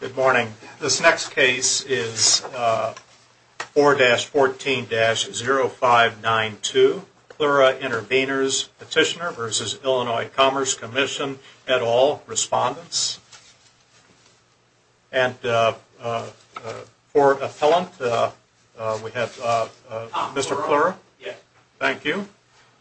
Good morning. This next case is 4-14-0592 Pliura Intervenors Petitioner v. Illinois Commerce Commission et al. Respondents. And for appellant, we have Mr. Pliura. Thank you.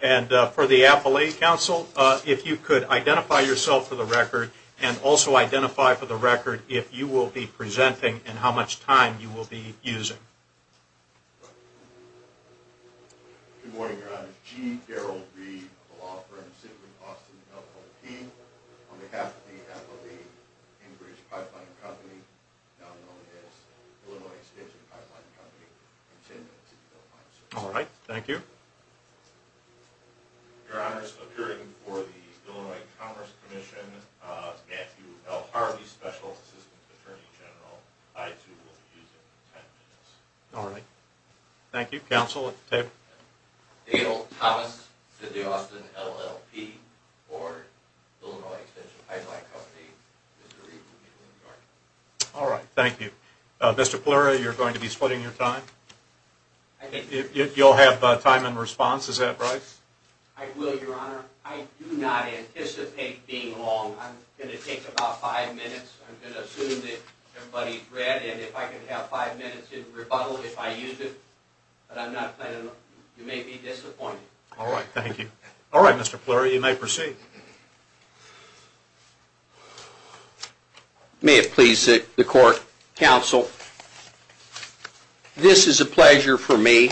And for the appellate counsel, if you could identify yourself for the record and also identify for the record if you will be presenting and how much time you will be using. Good morning, Your Honor. G. Daryl Reed of the law firm Citigroup, Austin, LLC. On behalf of the MLA, English Pipeline Company, now known as Illinois Extension Pipeline Company, I intend to file a suit. All right. Thank you. Your Honor, appearing for the Illinois Commerce Commission, Matthew L. Harvey, Special Assistant Attorney General. I, too, will be using 10 minutes. All right. Thank you. Counsel at the table. G. Daryl Thomas, Citigroup, Austin, LLC. Or Illinois Extension Pipeline Company, Mr. Reed of New York. All right. Thank you. Mr. Pliura, you're going to be splitting your time. You'll have time and response. Is that right? I will, Your Honor. I do not anticipate being long. I'm going to take about five minutes. I'm going to assume that everybody's read, and if I can have five minutes in rebuttal if I use it, but I'm not planning on. You may be disappointed. All right. Thank you. All right, Mr. Pliura, you may proceed. May it please the court, counsel, this is a pleasure for me.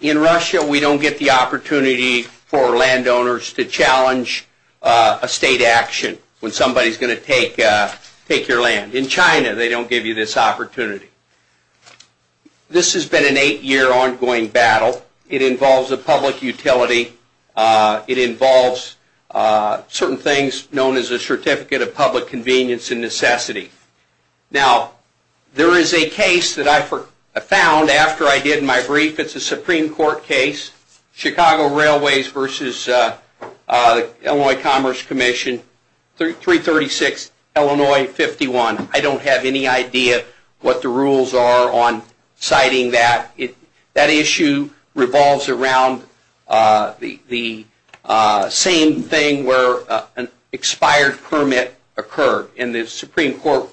In Russia, we don't get the opportunity for landowners to challenge a state action when somebody's going to take your land. In China, they don't give you this opportunity. This has been an eight-year ongoing battle. It involves a public utility. It involves certain things known as a Certificate of Public Convenience and Necessity. Now, there is a case that I found after I did my brief. It's a Supreme Court case, Chicago Railways v. Illinois Commerce Commission, 336 Illinois 51. I don't have any idea what the rules are on citing that. That issue revolves around the same thing where an expired permit occurred, and the Supreme Court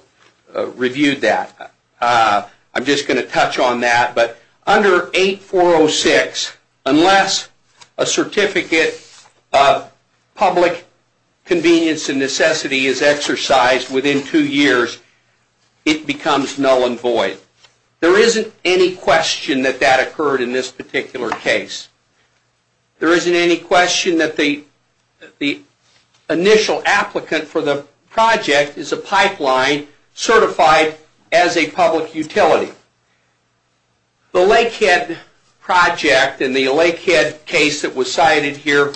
reviewed that. I'm just going to touch on that. But under 8406, unless a Certificate of Public Convenience and Necessity is exercised within two years, it becomes null and void. There isn't any question that that occurred in this particular case. There isn't any question that the initial applicant for the project is a pipeline certified as a public utility. The Lakehead project and the Lakehead case that was cited here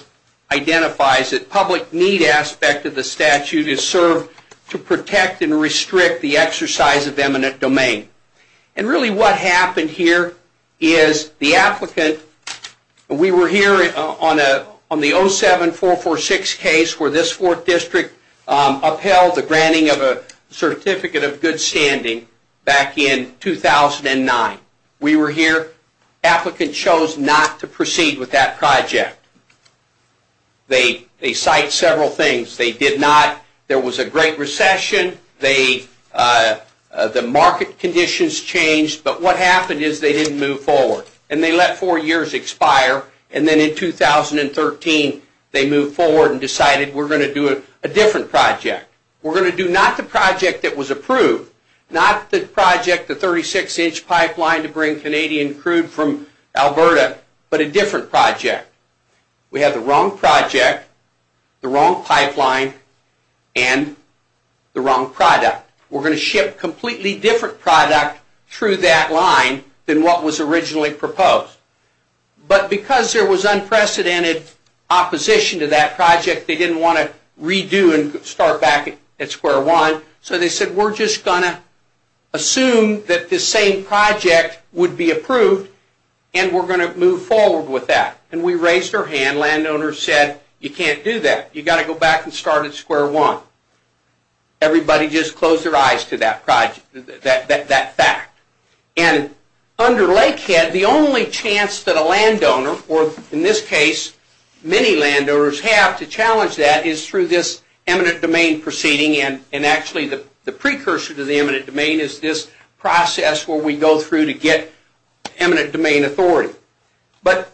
identifies that public need aspect of the statute is served to protect and restrict the exercise of eminent domain. Really what happened here is the applicant... We were here on the 07446 case where this 4th District upheld the granting of a Certificate of Good Standing back in 2009. We were here. Applicant chose not to proceed with that project. They cite several things. They did not... There was a great recession. The market conditions changed, but what happened is they didn't move forward. And they let four years expire. And then in 2013, they moved forward and decided we're going to do a different project. We're going to do not the project that was approved, not the project, the 36-inch pipeline to bring Canadian crude from Alberta, but a different project. We have the wrong project, the wrong pipeline, and the wrong product. We're going to ship a completely different product through that line than what was originally proposed. But because there was unprecedented opposition to that project, they didn't want to redo and start back at square one. So they said we're just going to assume that this same project would be approved and we're going to move forward with that. And we raised our hand. Landowners said, you can't do that. You've got to go back and start at square one. Everybody just closed their eyes to that project, that fact. And under Lakehead, the only chance that a landowner, or in this case, many landowners have to challenge that is through this eminent domain proceeding. And actually the precursor to the eminent domain is this process where we go through to get eminent domain authority. But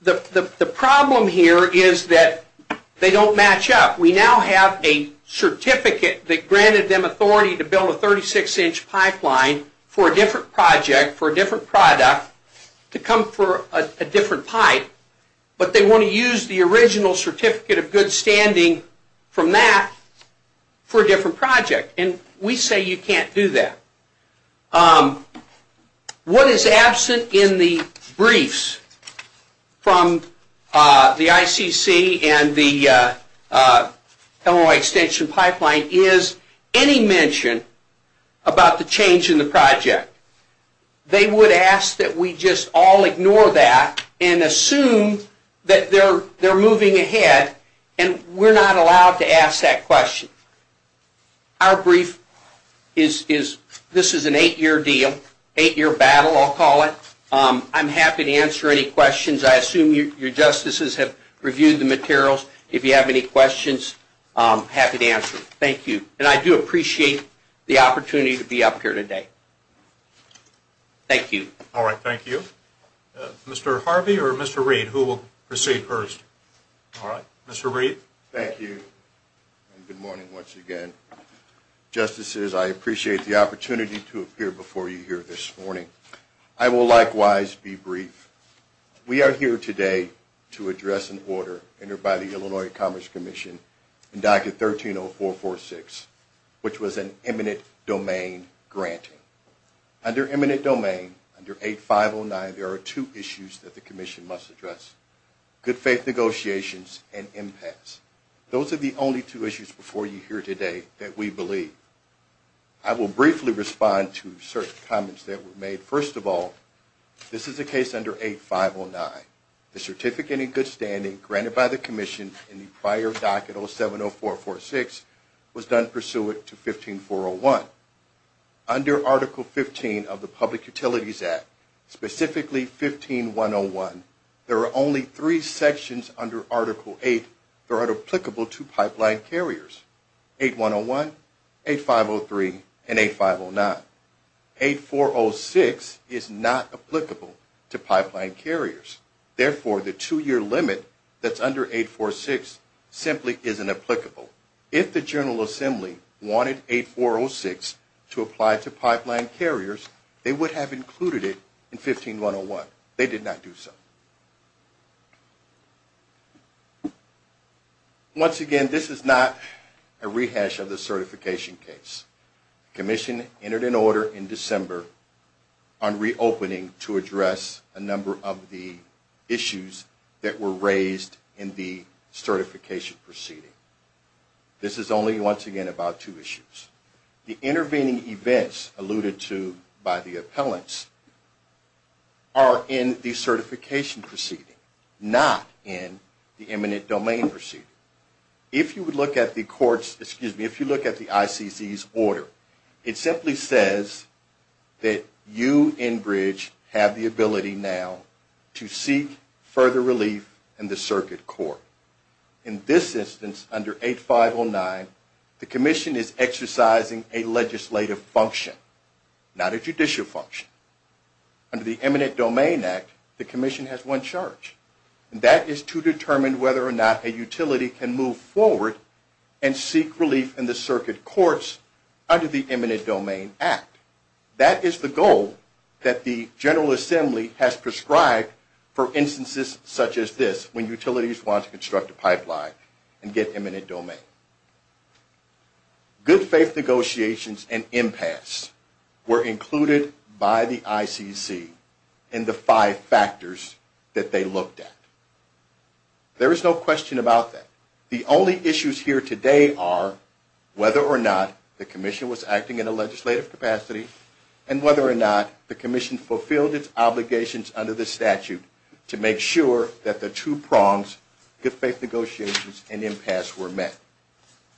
the problem here is that they don't match up. We now have a certificate that granted them authority to build a 36-inch pipeline for a different project, for a different product, to come for a different pipe. But they want to use the original certificate of good standing from that for a different project. And we say you can't do that. What is absent in the briefs from the ICC and the Illinois Extension Pipeline is any mention about the change in the project. They would ask that we just all ignore that and assume that they're moving ahead, and we're not allowed to ask that question. Our brief is, this is an eight-year deal, eight-year battle I'll call it. I'm happy to answer any questions. I assume your justices have reviewed the materials. If you have any questions, I'm happy to answer. Thank you. And I do appreciate the opportunity to be up here today. Thank you. All right, thank you. Mr. Harvey or Mr. Reed, who will proceed first? All right, Mr. Reed. Thank you. Good morning, once again. Justices, I appreciate the opportunity to appear before you here this morning. I will likewise be brief. We are here today to address an order entered by the Illinois Commerce Commission, inducted 130446, which was an eminent domain granting. Under eminent domain, under 8509, there are two issues that the commission must address, good faith negotiations and impacts. Those are the only two issues before you here today that we believe. I will briefly respond to certain comments that were made. First of all, this is a case under 8509. The certificate in good standing granted by the commission in the prior docket, 070446, was done pursuant to 15401. Under Article 15 of the Public Utilities Act, specifically 15101, there are only three sections under Article 8 that are applicable to pipeline carriers, 8101, 8503, and 8509. 8406 is not applicable to pipeline carriers. Therefore, the two-year limit that's under 846 simply isn't applicable. If the General Assembly wanted 8406 to apply to pipeline carriers, they would have included it in 15101. They did not do so. Once again, this is not a rehash of the certification case. The commission entered an order in December on reopening to address a number of the issues that were raised in the certification proceeding. This is only, once again, about two issues. The intervening events alluded to by the appellants are in the certification proceeding, not in the eminent domain proceeding. If you look at the ICC's order, it simply says that you, Enbridge, have the ability now to seek further relief in the circuit court. In this instance, under 8509, the commission is exercising a legislative function, not a judicial function. Under the Eminent Domain Act, the commission has one charge, and that is to determine whether or not a utility can move forward and seek relief in the circuit courts under the Eminent Domain Act. That is the goal that the General Assembly has prescribed for instances such as this, when utilities want to construct a pipeline and get eminent domain. Good faith negotiations and impasse were included by the ICC in the five factors that they looked at. There is no question about that. The only issues here today are whether or not the commission was acting in a legislative capacity and whether or not the commission fulfilled its obligations under the statute to make sure that the two prongs, good faith negotiations and impasse, were met.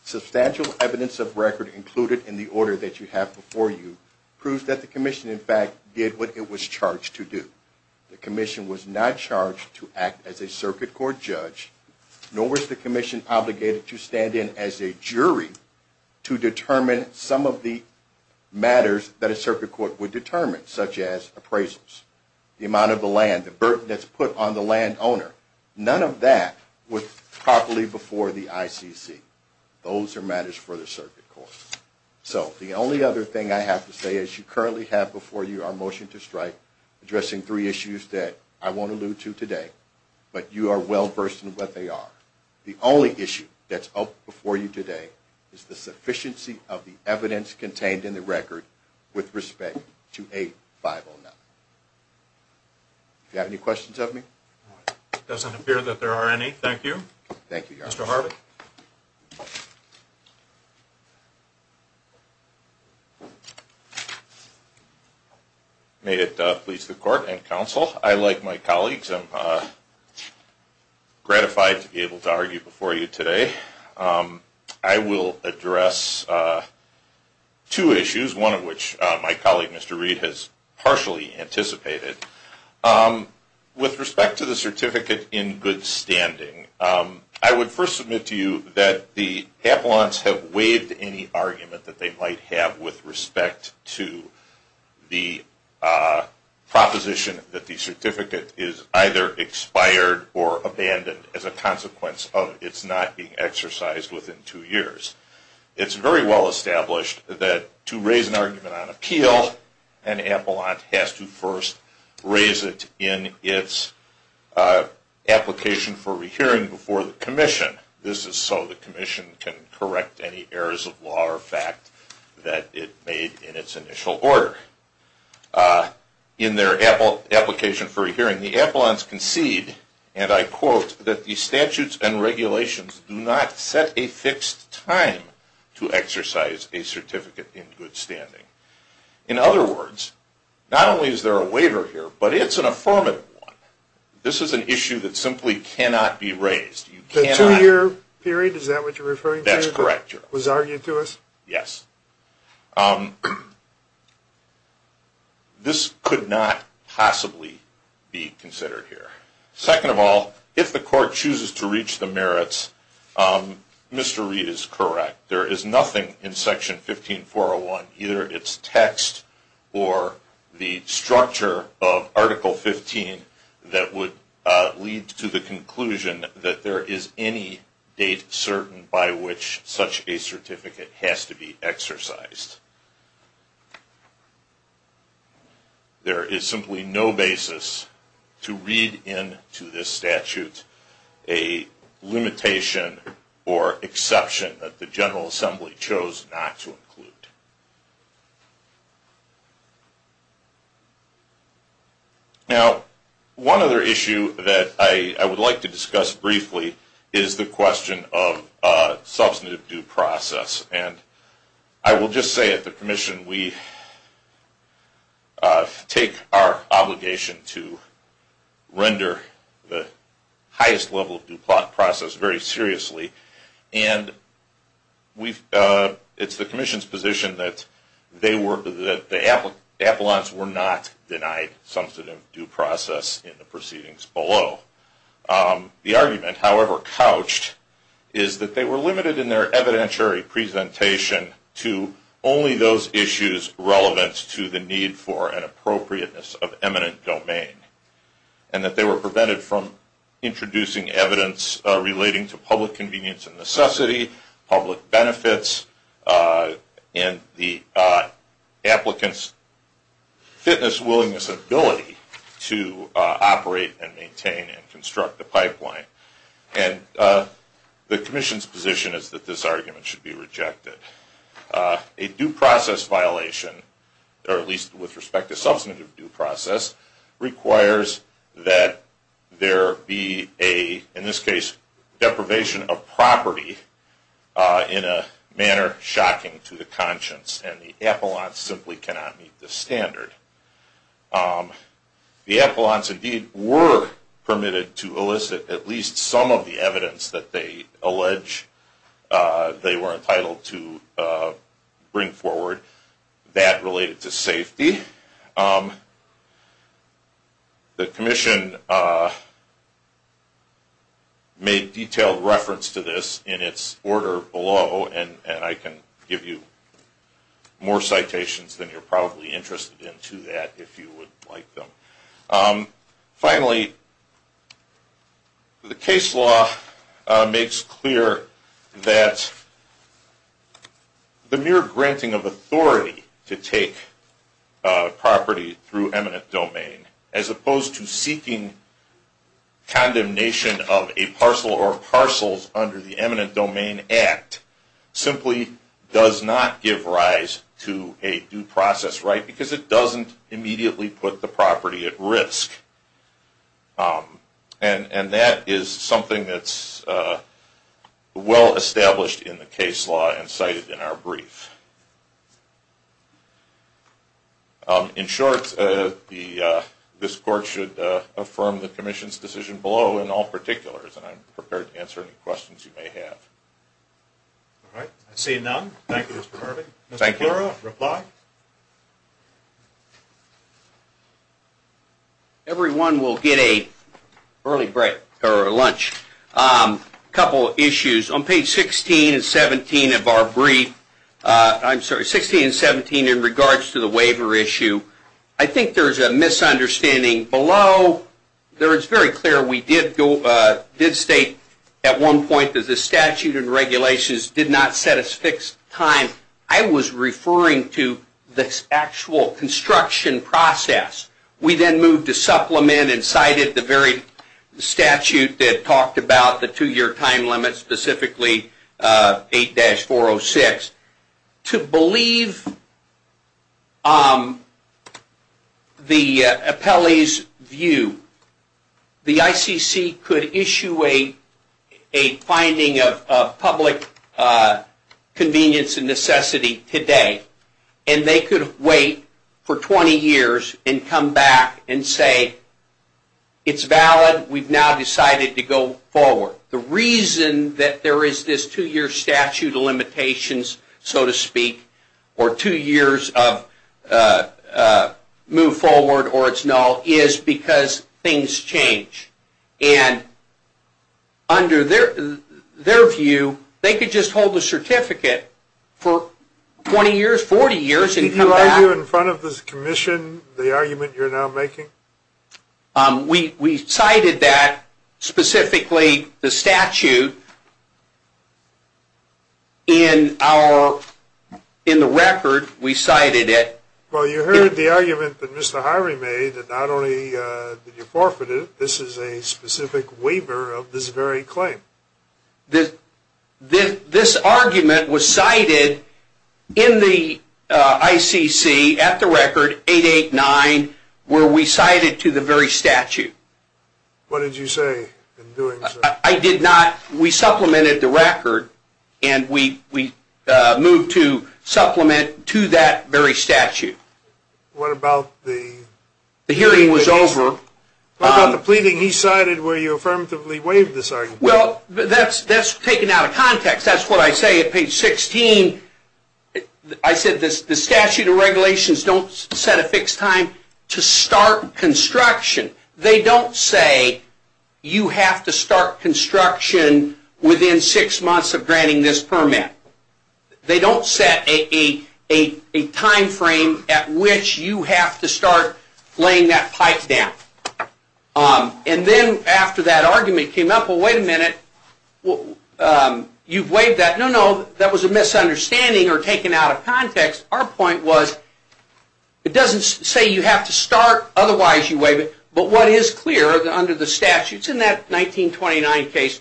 Substantial evidence of record included in the order that you have before you proves that the commission, in fact, did what it was charged to do. The commission was not charged to act as a circuit court judge, nor was the commission obligated to stand in as a jury to determine some of the matters that a circuit court would determine, such as appraisals, the amount of the land, the burden that's put on the landowner. None of that was properly before the ICC. Those are matters for the circuit court. So the only other thing I have to say is you currently have before you our motion to strike addressing three issues that I won't allude to today, but you are well versed in what they are. The only issue that's up before you today is the sufficiency of the evidence contained in the record with respect to 8509. Do you have any questions of me? It doesn't appear that there are any. Thank you. Thank you, Your Honor. Mr. Harvey? May it please the Court and counsel, I, like my colleagues, am gratified to be able to argue before you today. I will address two issues, one of which my colleague, Mr. Reed, has partially anticipated. With respect to the certificate in good standing, I would first submit to you that the appellants have waived any argument that they might have with respect to the proposition that the certificate is either expired or abandoned as a consequence of its not being exercised within two years. It's very well established that to raise an argument on appeal, an appellant has to first raise it in its application for rehearing before the commission. This is so the commission can correct any errors of law or fact that it made in its initial order. In their application for rehearing, the appellants concede, and I quote, that the statutes and regulations do not set a fixed time to exercise a certificate in good standing. In other words, not only is there a waiver here, but it's an affirmative one. This is an issue that simply cannot be raised. The two-year period, is that what you're referring to? That's correct, Your Honor. Was argued to us? Yes. This could not possibly be considered here. Second of all, if the court chooses to reach the merits, Mr. Reed is correct. There is nothing in Section 15401, either its text or the structure of Article 15, that would lead to the conclusion that there is any date certain by which such a certificate has to be exercised. There is simply no basis to read into this statute a limitation or exception that the General Assembly chose not to include. Now, one other issue that I would like to discuss briefly is the question of substantive due process. And I will just say at the Commission, we take our obligation to render the highest level of due process very seriously. And it's the Commission's position that the appellants were not denied substantive due process in the proceedings below. The argument, however couched, is that they were limited in their evidentiary presentation to only those issues relevant to the need for an appropriateness of eminent domain. And that they were prevented from introducing evidence relating to public convenience and necessity, public benefits, and the applicant's fitness, willingness, and ability to operate and maintain and construct a pipeline. And the Commission's position is that this argument should be rejected. A due process violation, or at least with respect to substantive due process, requires that there be a, in this case, deprivation of property in a manner shocking to the conscience. And the appellants simply cannot meet this standard. The appellants indeed were permitted to elicit at least some of the evidence that they allege they were entitled to bring forward that related to safety. The Commission made detailed reference to this in its order below, and I can give you more citations than you're probably interested in today. Finally, the case law makes clear that the mere granting of authority to take property through eminent domain, as opposed to seeking condemnation of a parcel or parcels under the Eminent Domain Act, simply does not give rise to a due process right, because it doesn't immediately put the property at risk. And that is something that's well established in the case law and cited in our brief. In short, this Court should affirm the Commission's decision below in all particulars, and I'm prepared to answer any questions you may have. All right, I see none. Thank you, Mr. Harvey. Mr. Pera, reply. Everyone will get a early break, or lunch. A couple of issues. On page 16 and 17 of our brief, I'm sorry, 16 and 17 in regards to the waiver issue, I think there's a misunderstanding below. It's very clear we did state at one point that the statute and regulations did not set a fixed time. I was referring to the actual construction process. We then moved to supplement and cited the very statute that talked about the two-year time limit, specifically 8-406. To believe the appellee's view, the ICC could issue a finding of public convenience and necessity today, and they could wait for 20 years and come back and say, it's valid, we've now decided to go forward. The reason that there is this two-year statute of limitations, so to speak, or two years of move forward or it's null, is because things change. Under their view, they could just hold the certificate for 20 years, 40 years, and come back. Did you argue in front of this Commission the argument you're now making? We cited that, specifically the statute. In the record, we cited it. Well, you heard the argument that Mr. Hyrie made, that not only did you forfeit it, this is a specific waiver of this very claim. This argument was cited in the ICC at the record, 8-89, where we cited it. What did you say in doing so? We supplemented the record, and we moved to supplement to that very statute. What about the pleading he cited where you affirmatively waived this argument? Well, that's taken out of context. That's what I say at page 16. I said the statute of regulations don't set a fixed time to start construction. They don't say you have to start construction within six months of granting this permit. They don't set a time frame at which you have to start laying that pipe down. And then after that argument came up, well, wait a minute, you've waived that. No, no, that was a misunderstanding or taken out of context. Our point was, it doesn't say you have to start, otherwise you waive it, but what is clear under the statute, and that 1929 case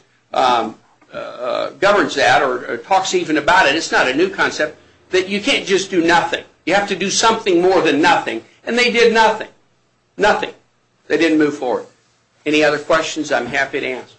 governs that or talks even about it, it's not a new concept, that you can't just do nothing. You have to do something more than nothing. And they did nothing. Nothing. They didn't move forward. Any other questions, I'm happy to answer. Thank you.